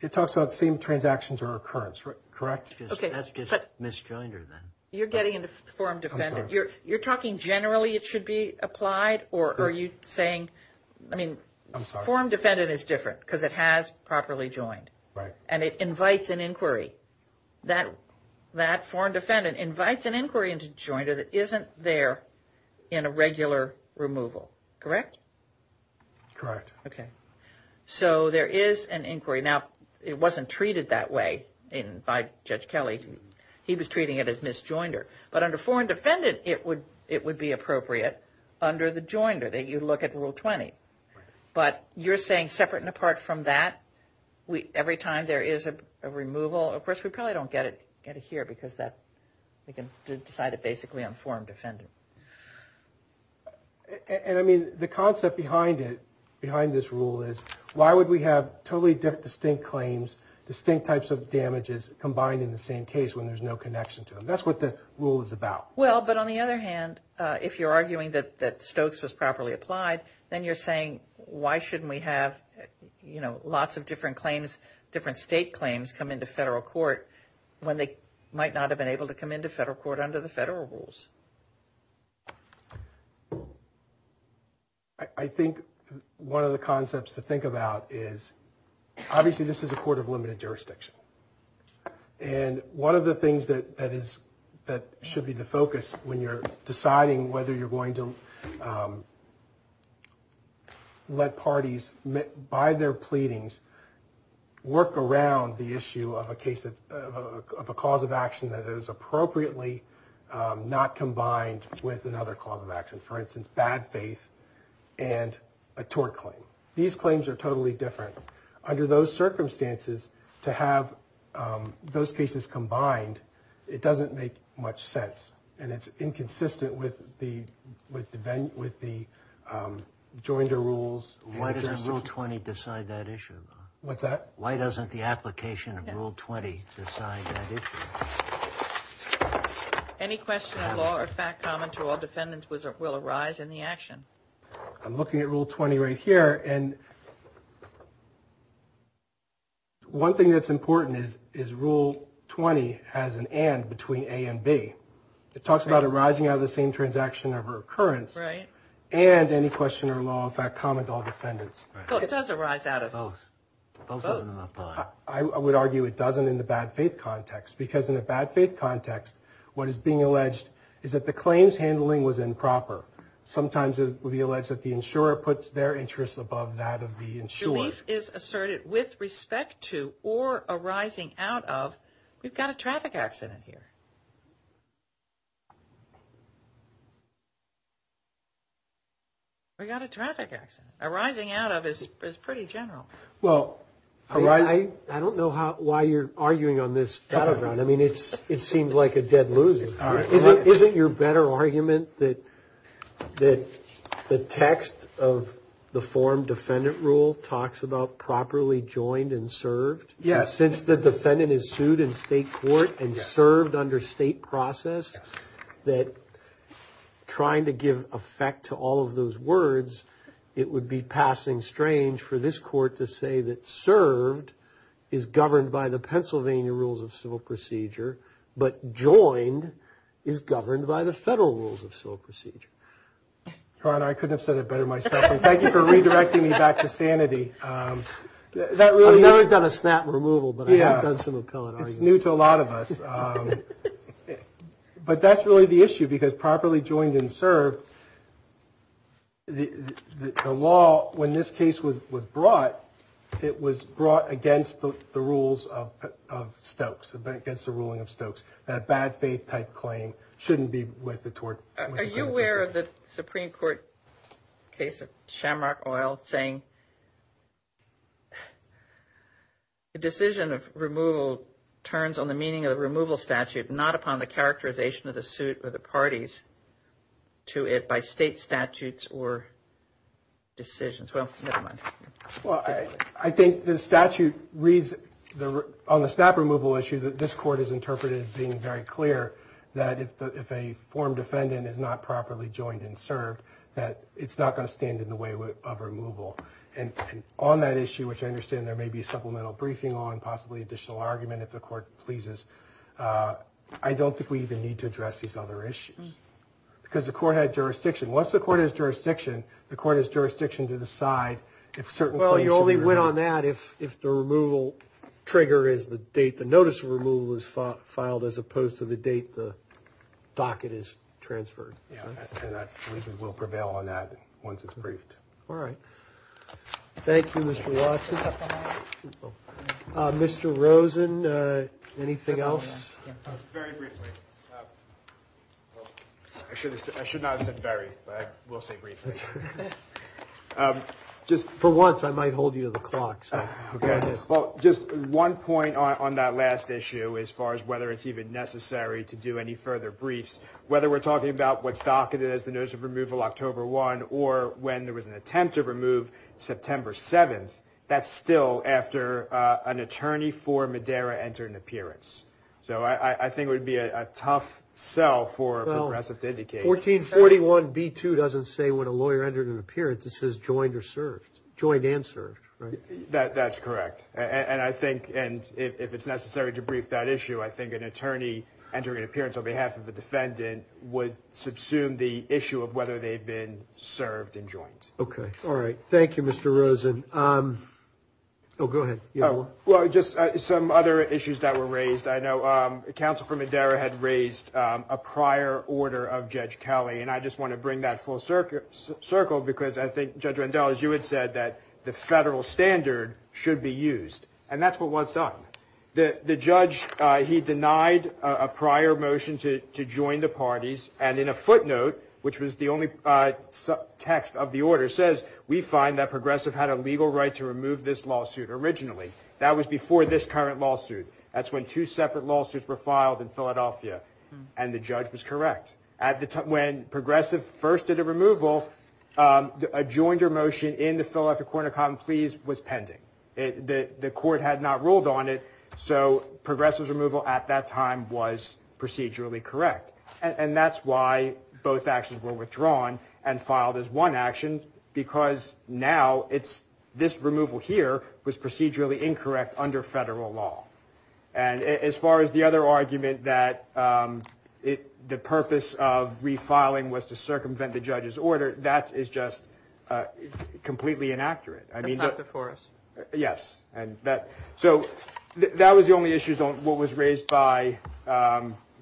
it talks about same transactions or occurrence, correct? Okay. That's just misjoinder then. You're getting into forum defendant. You're talking generally it should be applied or are you saying, I mean, forum defendant is different because it has properly joined. Right. And it invites an inquiry. That forum defendant invites an inquiry into joinder that isn't there in a regular removal, correct? Correct. Okay. So there is an inquiry. Now, it wasn't treated that way by Judge Kelly. He was treating it as misjoinder. But under forum defendant, it would be appropriate under the joinder that you look at Rule 20. But you're saying separate and apart from that, every time there is a removal, of course, we probably don't get it here because we can decide it basically on forum defendant. And, I mean, the concept behind it, behind this rule, is why would we have totally distinct claims, distinct types of damages combined in the same case when there's no connection to them? That's what the rule is about. Well, but on the other hand, if you're arguing that Stokes was properly applied, then you're saying why shouldn't we have, you know, lots of different claims, different state claims come into federal court when they might not have been able to come into federal court under the federal rules? I think one of the concepts to think about is, obviously this is a court of limited jurisdiction. And one of the things that should be the focus when you're deciding whether you're going to let parties, by their pleadings, work around the issue of a cause of action that is appropriately not combined with another cause of action. For instance, bad faith and a tort claim. These claims are totally different. Under those circumstances, to have those cases combined, it doesn't make much sense. And it's inconsistent with the joinder rules. Why doesn't Rule 20 decide that issue? What's that? Why doesn't the application of Rule 20 decide that issue? Any question on law or fact common to all defendants will arise in the action. I'm looking at Rule 20 right here. And one thing that's important is Rule 20 has an and between A and B. It talks about arising out of the same transaction of occurrence and any question or law or fact common to all defendants. It doesn't arise out of both. I would argue it doesn't in the bad faith context. Because in the bad faith context, what is being alleged is that the claims handling was improper. Sometimes it would be alleged that the insurer puts their interests above that of the insurer. Belief is asserted with respect to or arising out of. We've got a traffic accident here. We've got a traffic accident. Arising out of is pretty general. Well, I don't know why you're arguing on this. I mean, it seems like a dead loser. Isn't your better argument that the text of the form defendant rule talks about properly joined and served? Yes. Since the defendant is sued in state court and served under state process, that trying to give effect to all of those words, it would be passing strange for this court to say that served is governed by the Pennsylvania rules of civil procedure, but joined is governed by the federal rules of civil procedure. Ron, I couldn't have said it better myself. Thank you for redirecting me back to sanity. I've never done a snap removal, but I have done some appellate arguments. It's new to a lot of us. But that's really the issue because properly joined and served, the law when this case was brought, it was brought against the rules of Stokes, against the ruling of Stokes. That bad faith type claim shouldn't be with the tort. Are you aware of the Supreme Court case of Shamrock Oil saying the decision of removal turns on the meaning of the removal statute, not upon the characterization of the suit or the parties to it Well, never mind. I think the statute reads on the snap removal issue that this court has interpreted as being very clear that if a form defendant is not properly joined and served, that it's not going to stand in the way of removal. And on that issue, which I understand there may be supplemental briefing on, possibly additional argument if the court pleases, I don't think we even need to address these other issues because the court had jurisdiction. Once the court has jurisdiction, the court has jurisdiction to decide if certain claims should be removed. Well, you only went on that if the removal trigger is the date the notice of removal was filed as opposed to the date the docket is transferred. Yeah, and I believe we will prevail on that once it's briefed. All right. Thank you, Mr. Watson. Mr. Rosen, anything else? Very briefly. I should not have said very, but I will say briefly. Just for once, I might hold you to the clock. Okay. Well, just one point on that last issue as far as whether it's even necessary to do any further briefs. Whether we're talking about what's docketed as the notice of removal October 1 or when there was an attempt to remove September 7, that's still after an attorney for Madera entered an appearance. So I think it would be a tough sell for a progressive to indicate. Well, 1441b2 doesn't say when a lawyer entered an appearance. It says joined and served, right? That's correct. And I think if it's necessary to brief that issue, I think an attorney entering an appearance on behalf of a defendant would subsume the issue of whether they've been served and joined. Okay. All right. Thank you, Mr. Rosen. Oh, go ahead. You had one? Well, just some other issues that were raised. I know Counsel for Madera had raised a prior order of Judge Kelly, and I just want to bring that full circle because I think, Judge Randall, as you had said, that the federal standard should be used, and that's what was done. The judge, he denied a prior motion to join the parties, and in a footnote, which was the only text of the order, we find that progressive had a legal right to remove this lawsuit originally. That was before this current lawsuit. That's when two separate lawsuits were filed in Philadelphia, and the judge was correct. When progressive first did a removal, a joinder motion in the Philadelphia Court of Common Pleas was pending. The court had not ruled on it, so progressive's removal at that time was procedurally correct, and that's why both actions were withdrawn and filed as one action. Because now, this removal here was procedurally incorrect under federal law. And as far as the other argument, that the purpose of refiling was to circumvent the judge's order, that is just completely inaccurate. That's not before us. Yes. So that was the only issue that was raised by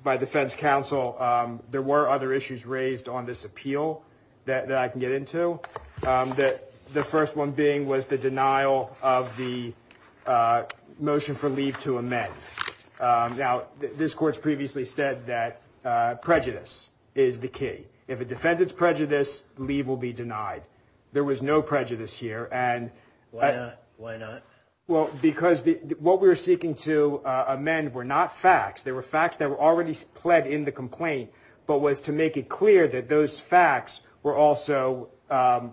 defense counsel. There were other issues raised on this appeal that I can get into. The first one being was the denial of the motion for leave to amend. Now, this court's previously said that prejudice is the key. If a defendant's prejudice, leave will be denied. There was no prejudice here. Why not? Well, because what we were seeking to amend were not facts. They were facts that were already pled in the complaint, but was to make it clear that those facts were also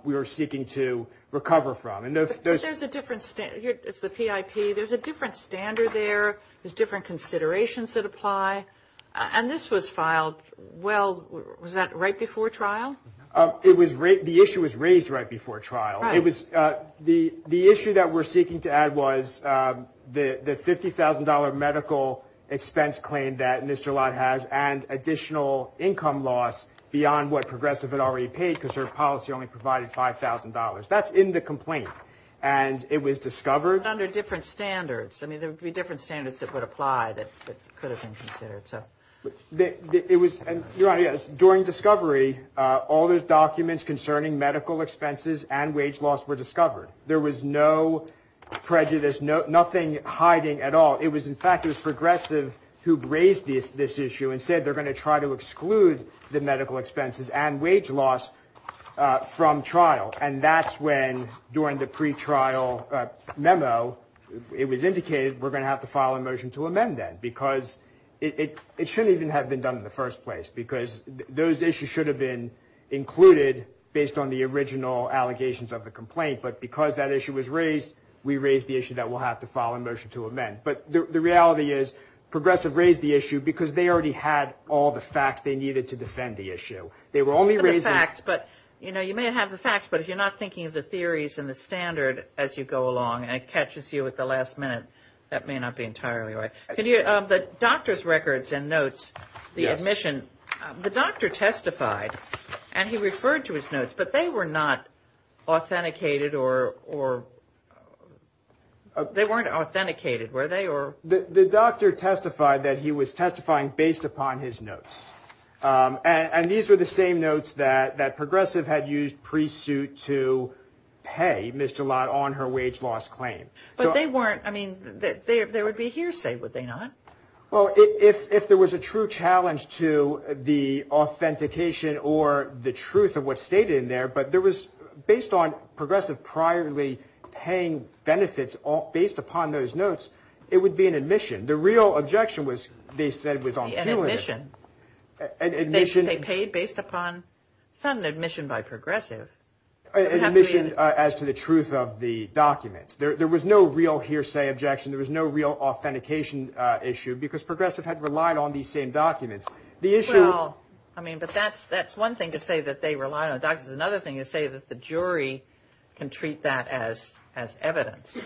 we were seeking to recover from. But there's a different standard. It's the PIP. There's a different standard there. There's different considerations that apply. And this was filed, well, was that right before trial? The issue was raised right before trial. The issue that we're seeking to add was the $50,000 medical expense claim that Ms. Jalot has and additional income loss beyond what Progressive had already paid because her policy only provided $5,000. That's in the complaint, and it was discovered. But under different standards. I mean, there would be different standards that would apply that could have been considered. During discovery, all the documents concerning medical expenses and wage loss were discovered. There was no prejudice, nothing hiding at all. In fact, it was Progressive who raised this issue and said they're going to try to exclude the medical expenses and wage loss from trial. And that's when, during the pretrial memo, it was indicated we're going to have to file a motion to amend that because it shouldn't even have been done in the first place because those issues should have been included based on the original allegations of the complaint. But because that issue was raised, we raised the issue that we'll have to file a motion to amend. But the reality is Progressive raised the issue because they already had all the facts they needed to defend the issue. They were only raising the facts. You may have the facts, but if you're not thinking of the theories and the standard as you go along and it catches you at the last minute, that may not be entirely right. The doctor's records and notes, the admission, the doctor testified and he referred to his notes, but they were not authenticated or they weren't authenticated, were they? The doctor testified that he was testifying based upon his notes. And these were the same notes that Progressive had used pre-suit to pay Mr. Lott on her wage loss claim. But they weren't, I mean, there would be hearsay, would they not? Well, if there was a true challenge to the authentication or the truth of what's stated in there, but there was, based on Progressive priorly paying benefits based upon those notes, it would be an admission. The real objection was they said it was on purely. An admission. An admission. They paid based upon, it's not an admission by Progressive. An admission as to the truth of the documents. There was no real hearsay objection. There was no real authentication issue because Progressive had relied on these same documents. The issue. Well, I mean, but that's one thing to say that they relied on documents. Another thing is to say that the jury can treat that as evidence.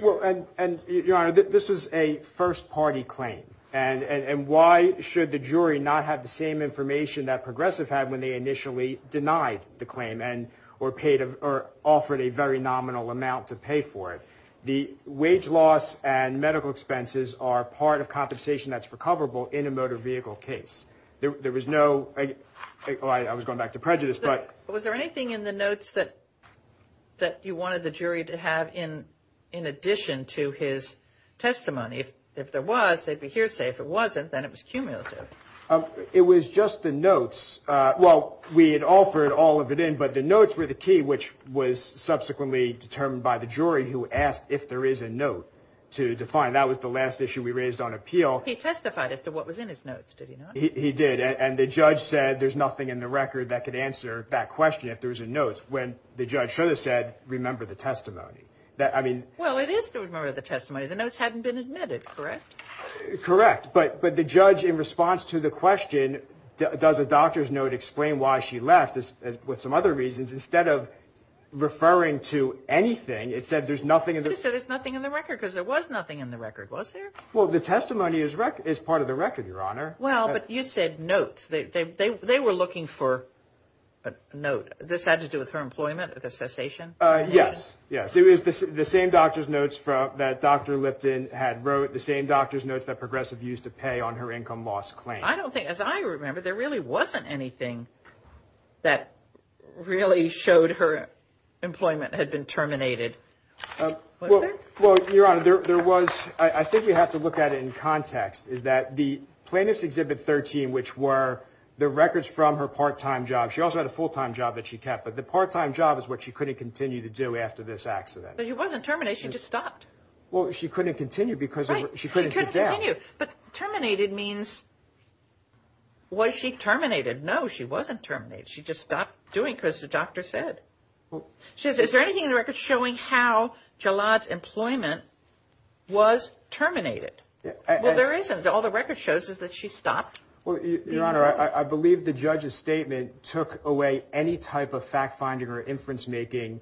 Well, and Your Honor, this was a first party claim. And why should the jury not have the same information that Progressive had when they initially denied the claim? Or paid or offered a very nominal amount to pay for it? The wage loss and medical expenses are part of compensation that's recoverable in a motor vehicle case. There was no, I was going back to prejudice, but. Was there anything in the notes that you wanted the jury to have in addition to his testimony? If there was, they'd be hearsay. If it wasn't, then it was cumulative. It was just the notes. Well, we had offered all of it in, but the notes were the key, which was subsequently determined by the jury who asked if there is a note to define. That was the last issue we raised on appeal. He testified as to what was in his notes, did he not? He did. And the judge said there's nothing in the record that could answer that question if there was a note. When the judge should have said, remember the testimony. I mean. Well, it is to remember the testimony. The notes hadn't been admitted, correct? Correct. But the judge, in response to the question, does a doctor's note explain why she left, with some other reasons, instead of referring to anything, it said there's nothing. It said there's nothing in the record because there was nothing in the record, was there? Well, the testimony is part of the record, Your Honor. Well, but you said notes. They were looking for a note. This had to do with her employment at the cessation? Yes, yes. It was the same doctor's notes that Dr. Lipton had wrote, the same doctor's notes that Progressive used to pay on her income loss claim. I don't think, as I remember, there really wasn't anything that really showed her employment had been terminated, was there? Well, Your Honor, there was. I think we have to look at it in context, is that the plaintiff's Exhibit 13, which were the records from her part-time job. She also had a full-time job that she kept, but the part-time job is what she couldn't continue to do after this accident. But she wasn't terminated. She just stopped. Well, she couldn't continue because she couldn't sit down. Right, she couldn't continue. But terminated means, was she terminated? No, she wasn't terminated. She just stopped doing what the doctor said. She says, is there anything in the record showing how Jalad's employment was terminated? Well, there isn't. All the record shows is that she stopped. Well, Your Honor, I believe the judge's statement took away any type of fact-finding or inference-making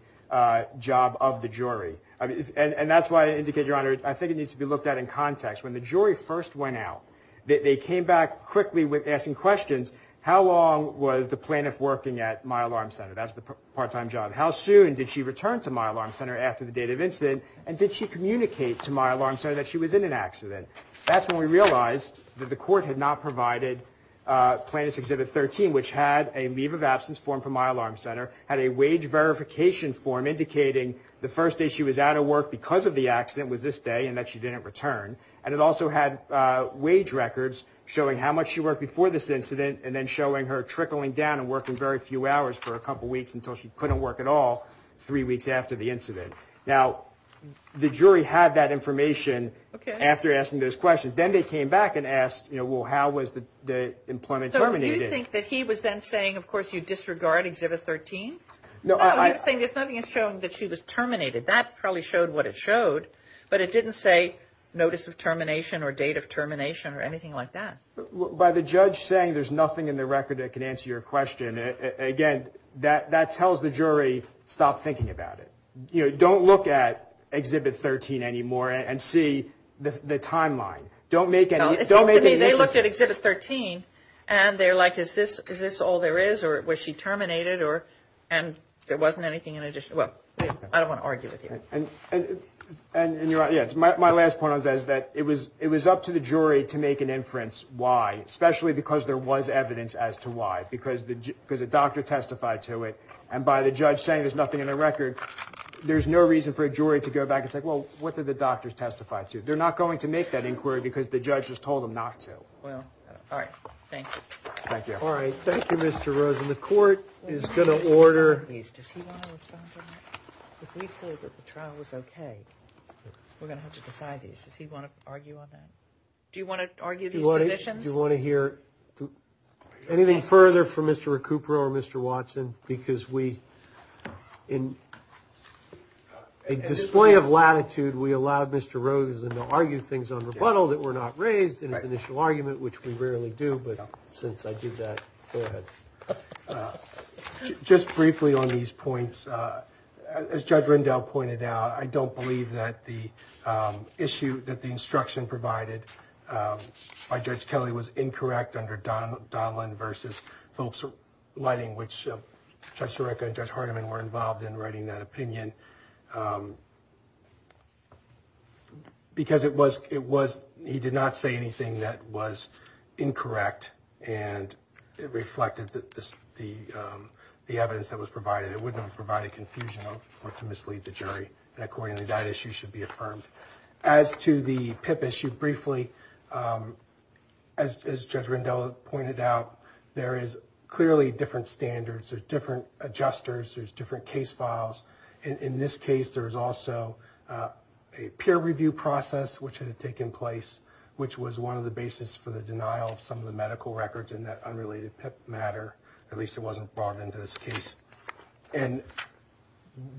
job of the jury. And that's why I indicate, Your Honor, I think it needs to be looked at in context. When the jury first went out, they came back quickly with asking questions. How long was the plaintiff working at My Alarm Center? That's the part-time job. How soon did she return to My Alarm Center after the date of incident? And did she communicate to My Alarm Center that she was in an accident? That's when we realized that the court had not provided Plaintiff's Exhibit 13, which had a leave of absence form from My Alarm Center, had a wage verification form indicating the first day she was out of work because of the accident was this day and that she didn't return. And it also had wage records showing how much she worked before this incident and then showing her trickling down and working very few hours for a couple weeks until she couldn't work at all three weeks after the incident. Now, the jury had that information after asking those questions. Then they came back and asked, well, how was the employment terminated? Do you think that he was then saying, of course, you disregard Exhibit 13? No, he was saying there's nothing that's showing that she was terminated. That probably showed what it showed, but it didn't say notice of termination or date of termination or anything like that. By the judge saying there's nothing in the record that can answer your question, again, that tells the jury stop thinking about it. Don't look at Exhibit 13 anymore and see the timeline. It seems to me they looked at Exhibit 13 and they're like, is this all there is or was she terminated and there wasn't anything in addition? Well, I don't want to argue with you. My last point on that is that it was up to the jury to make an inference why, especially because there was evidence as to why, because the doctor testified to it. And by the judge saying there's nothing in the record, there's no reason for a jury to go back and say, well, what did the doctor testify to? They're not going to make that inquiry because the judge has told them not to. Well, all right. Thank you. Thank you. All right. Thank you, Mr. Rose. And the court is going to order. Does he want to respond to that? If we feel that the trial was okay, we're going to have to decide these. Does he want to argue on that? Do you want to argue these positions? Do you want to hear anything further from Mr. Recupero or Mr. Watson? Because we in a display of latitude, we allowed Mr. Rosen to argue things on rebuttal that were not raised in his initial argument, which we rarely do. But since I did that, go ahead. Just briefly on these points, as Judge Rendell pointed out, I don't believe that the issue that the instruction provided by Judge Kelly was incorrect under Donlon v. Phillips' lighting, which Judge Sirica and Judge Hardiman were involved in writing that opinion, because he did not say anything that was incorrect and it reflected the evidence that was provided. It would not have provided confusion or to mislead the jury. And accordingly, that issue should be affirmed. As to the PIP issue, briefly, as Judge Rendell pointed out, there is clearly different standards. There's different adjusters. There's different case files. In this case, there was also a peer review process which had taken place, which was one of the basis for the denial of some of the medical records and that unrelated PIP matter. At least it wasn't brought into this case. And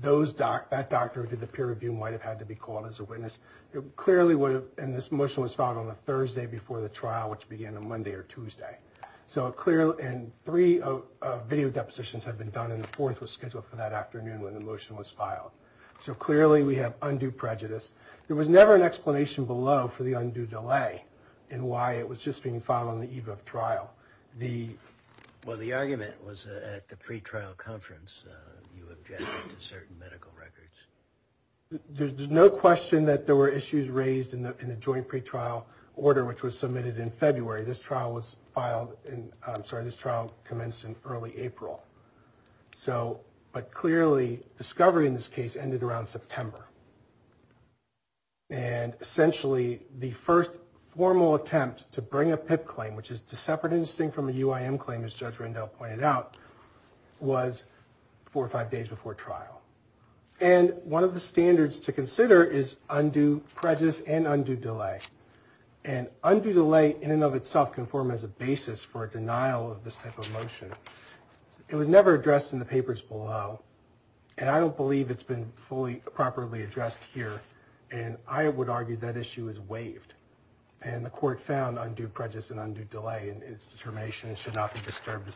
that doctor who did the peer review might have had to be called as a witness. Clearly, and this motion was filed on a Thursday before the trial, which began on Monday or Tuesday. And three video depositions had been done and a fourth was scheduled for that afternoon when the motion was filed. So clearly, we have undue prejudice. There was never an explanation below for the undue delay and why it was just being filed on the eve of trial. Well, the argument was at the pretrial conference, you objected to certain medical records. There's no question that there were issues raised in the joint pretrial order, which was submitted in February. This trial was filed in – I'm sorry, this trial commenced in early April. But clearly, discovery in this case ended around September. And essentially, the first formal attempt to bring a PIP claim, which is to separate and distinguish from a UIM claim, as Judge Rendell pointed out, was four or five days before trial. And one of the standards to consider is undue prejudice and undue delay. And undue delay in and of itself can form as a basis for a denial of this type of motion. It was never addressed in the papers below. And I don't believe it's been fully properly addressed here. And I would argue that issue is waived. And the court found undue prejudice and undue delay in its determination and should not be disturbed.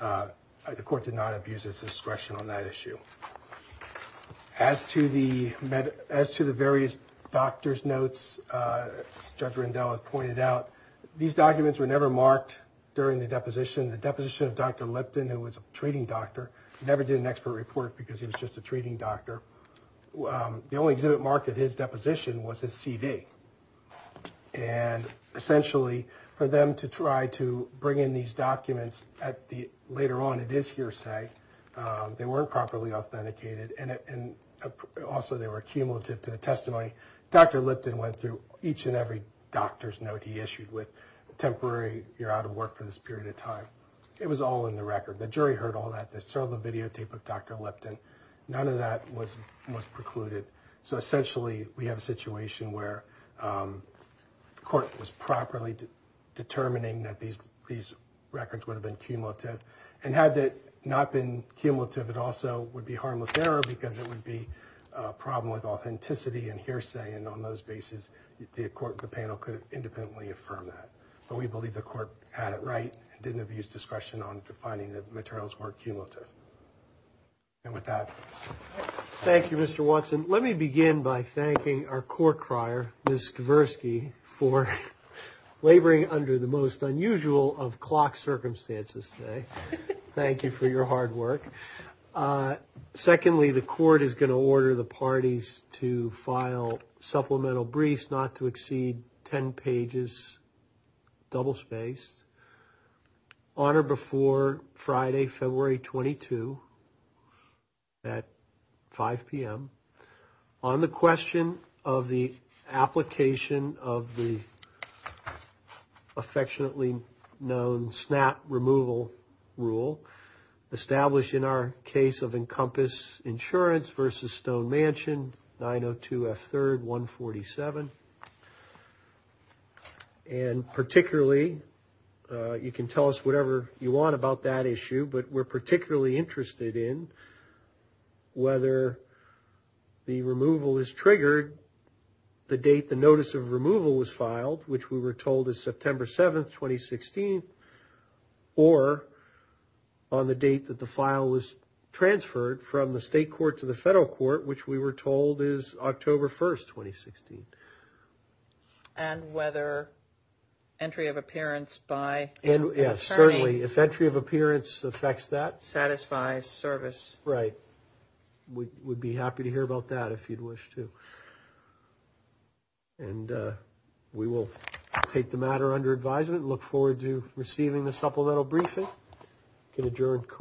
The court did not abuse its discretion on that issue. As to the various doctor's notes, Judge Rendell pointed out, these documents were never marked during the deposition. The deposition of Dr. Lipton, who was a treating doctor, never did an expert report because he was just a treating doctor. The only exhibit marked at his deposition was his CV. And essentially, for them to try to bring in these documents later on, it is hearsay. They weren't properly authenticated. And also, they were cumulative to the testimony. Dr. Lipton went through each and every doctor's note he issued with a temporary, you're out of work for this period of time. It was all in the record. The jury heard all that. They saw the videotape of Dr. Lipton. None of that was precluded. So essentially, we have a situation where the court was properly determining that these records would have been cumulative. And had it not been cumulative, it also would be harmless error because it would be a problem with authenticity and hearsay. And on those bases, the panel could have independently affirmed that. But we believe the court had it right and didn't abuse discretion on finding that the materials were cumulative. And with that. Thank you, Mr. Watson. Let me begin by thanking our court crier, Ms. Skversky, for laboring under the most unusual of clock circumstances today. Thank you for your hard work. Secondly, the court is going to order the parties to file supplemental briefs not to exceed 10 pages, double-spaced, on or before Friday, February 22 at 5 p.m. on the question of the application of the affectionately known SNAP removal rule established in our case of Encompass Insurance v. Stone Mansion, 902 F. 3rd, 147. And particularly, you can tell us whatever you want about that issue, but we're particularly interested in whether the removal is triggered the date the notice of removal was filed, which we were told is September 7, 2016, or on the date that the file was transferred from the state court to the federal court, which we were told is October 1, 2016. And whether entry of appearance by an attorney. Yes, certainly. If entry of appearance affects that. Satisfies service. Right. We'd be happy to hear about that if you'd wish to. And we will take the matter under advisement. Look forward to receiving the supplemental briefing. Can adjourn court.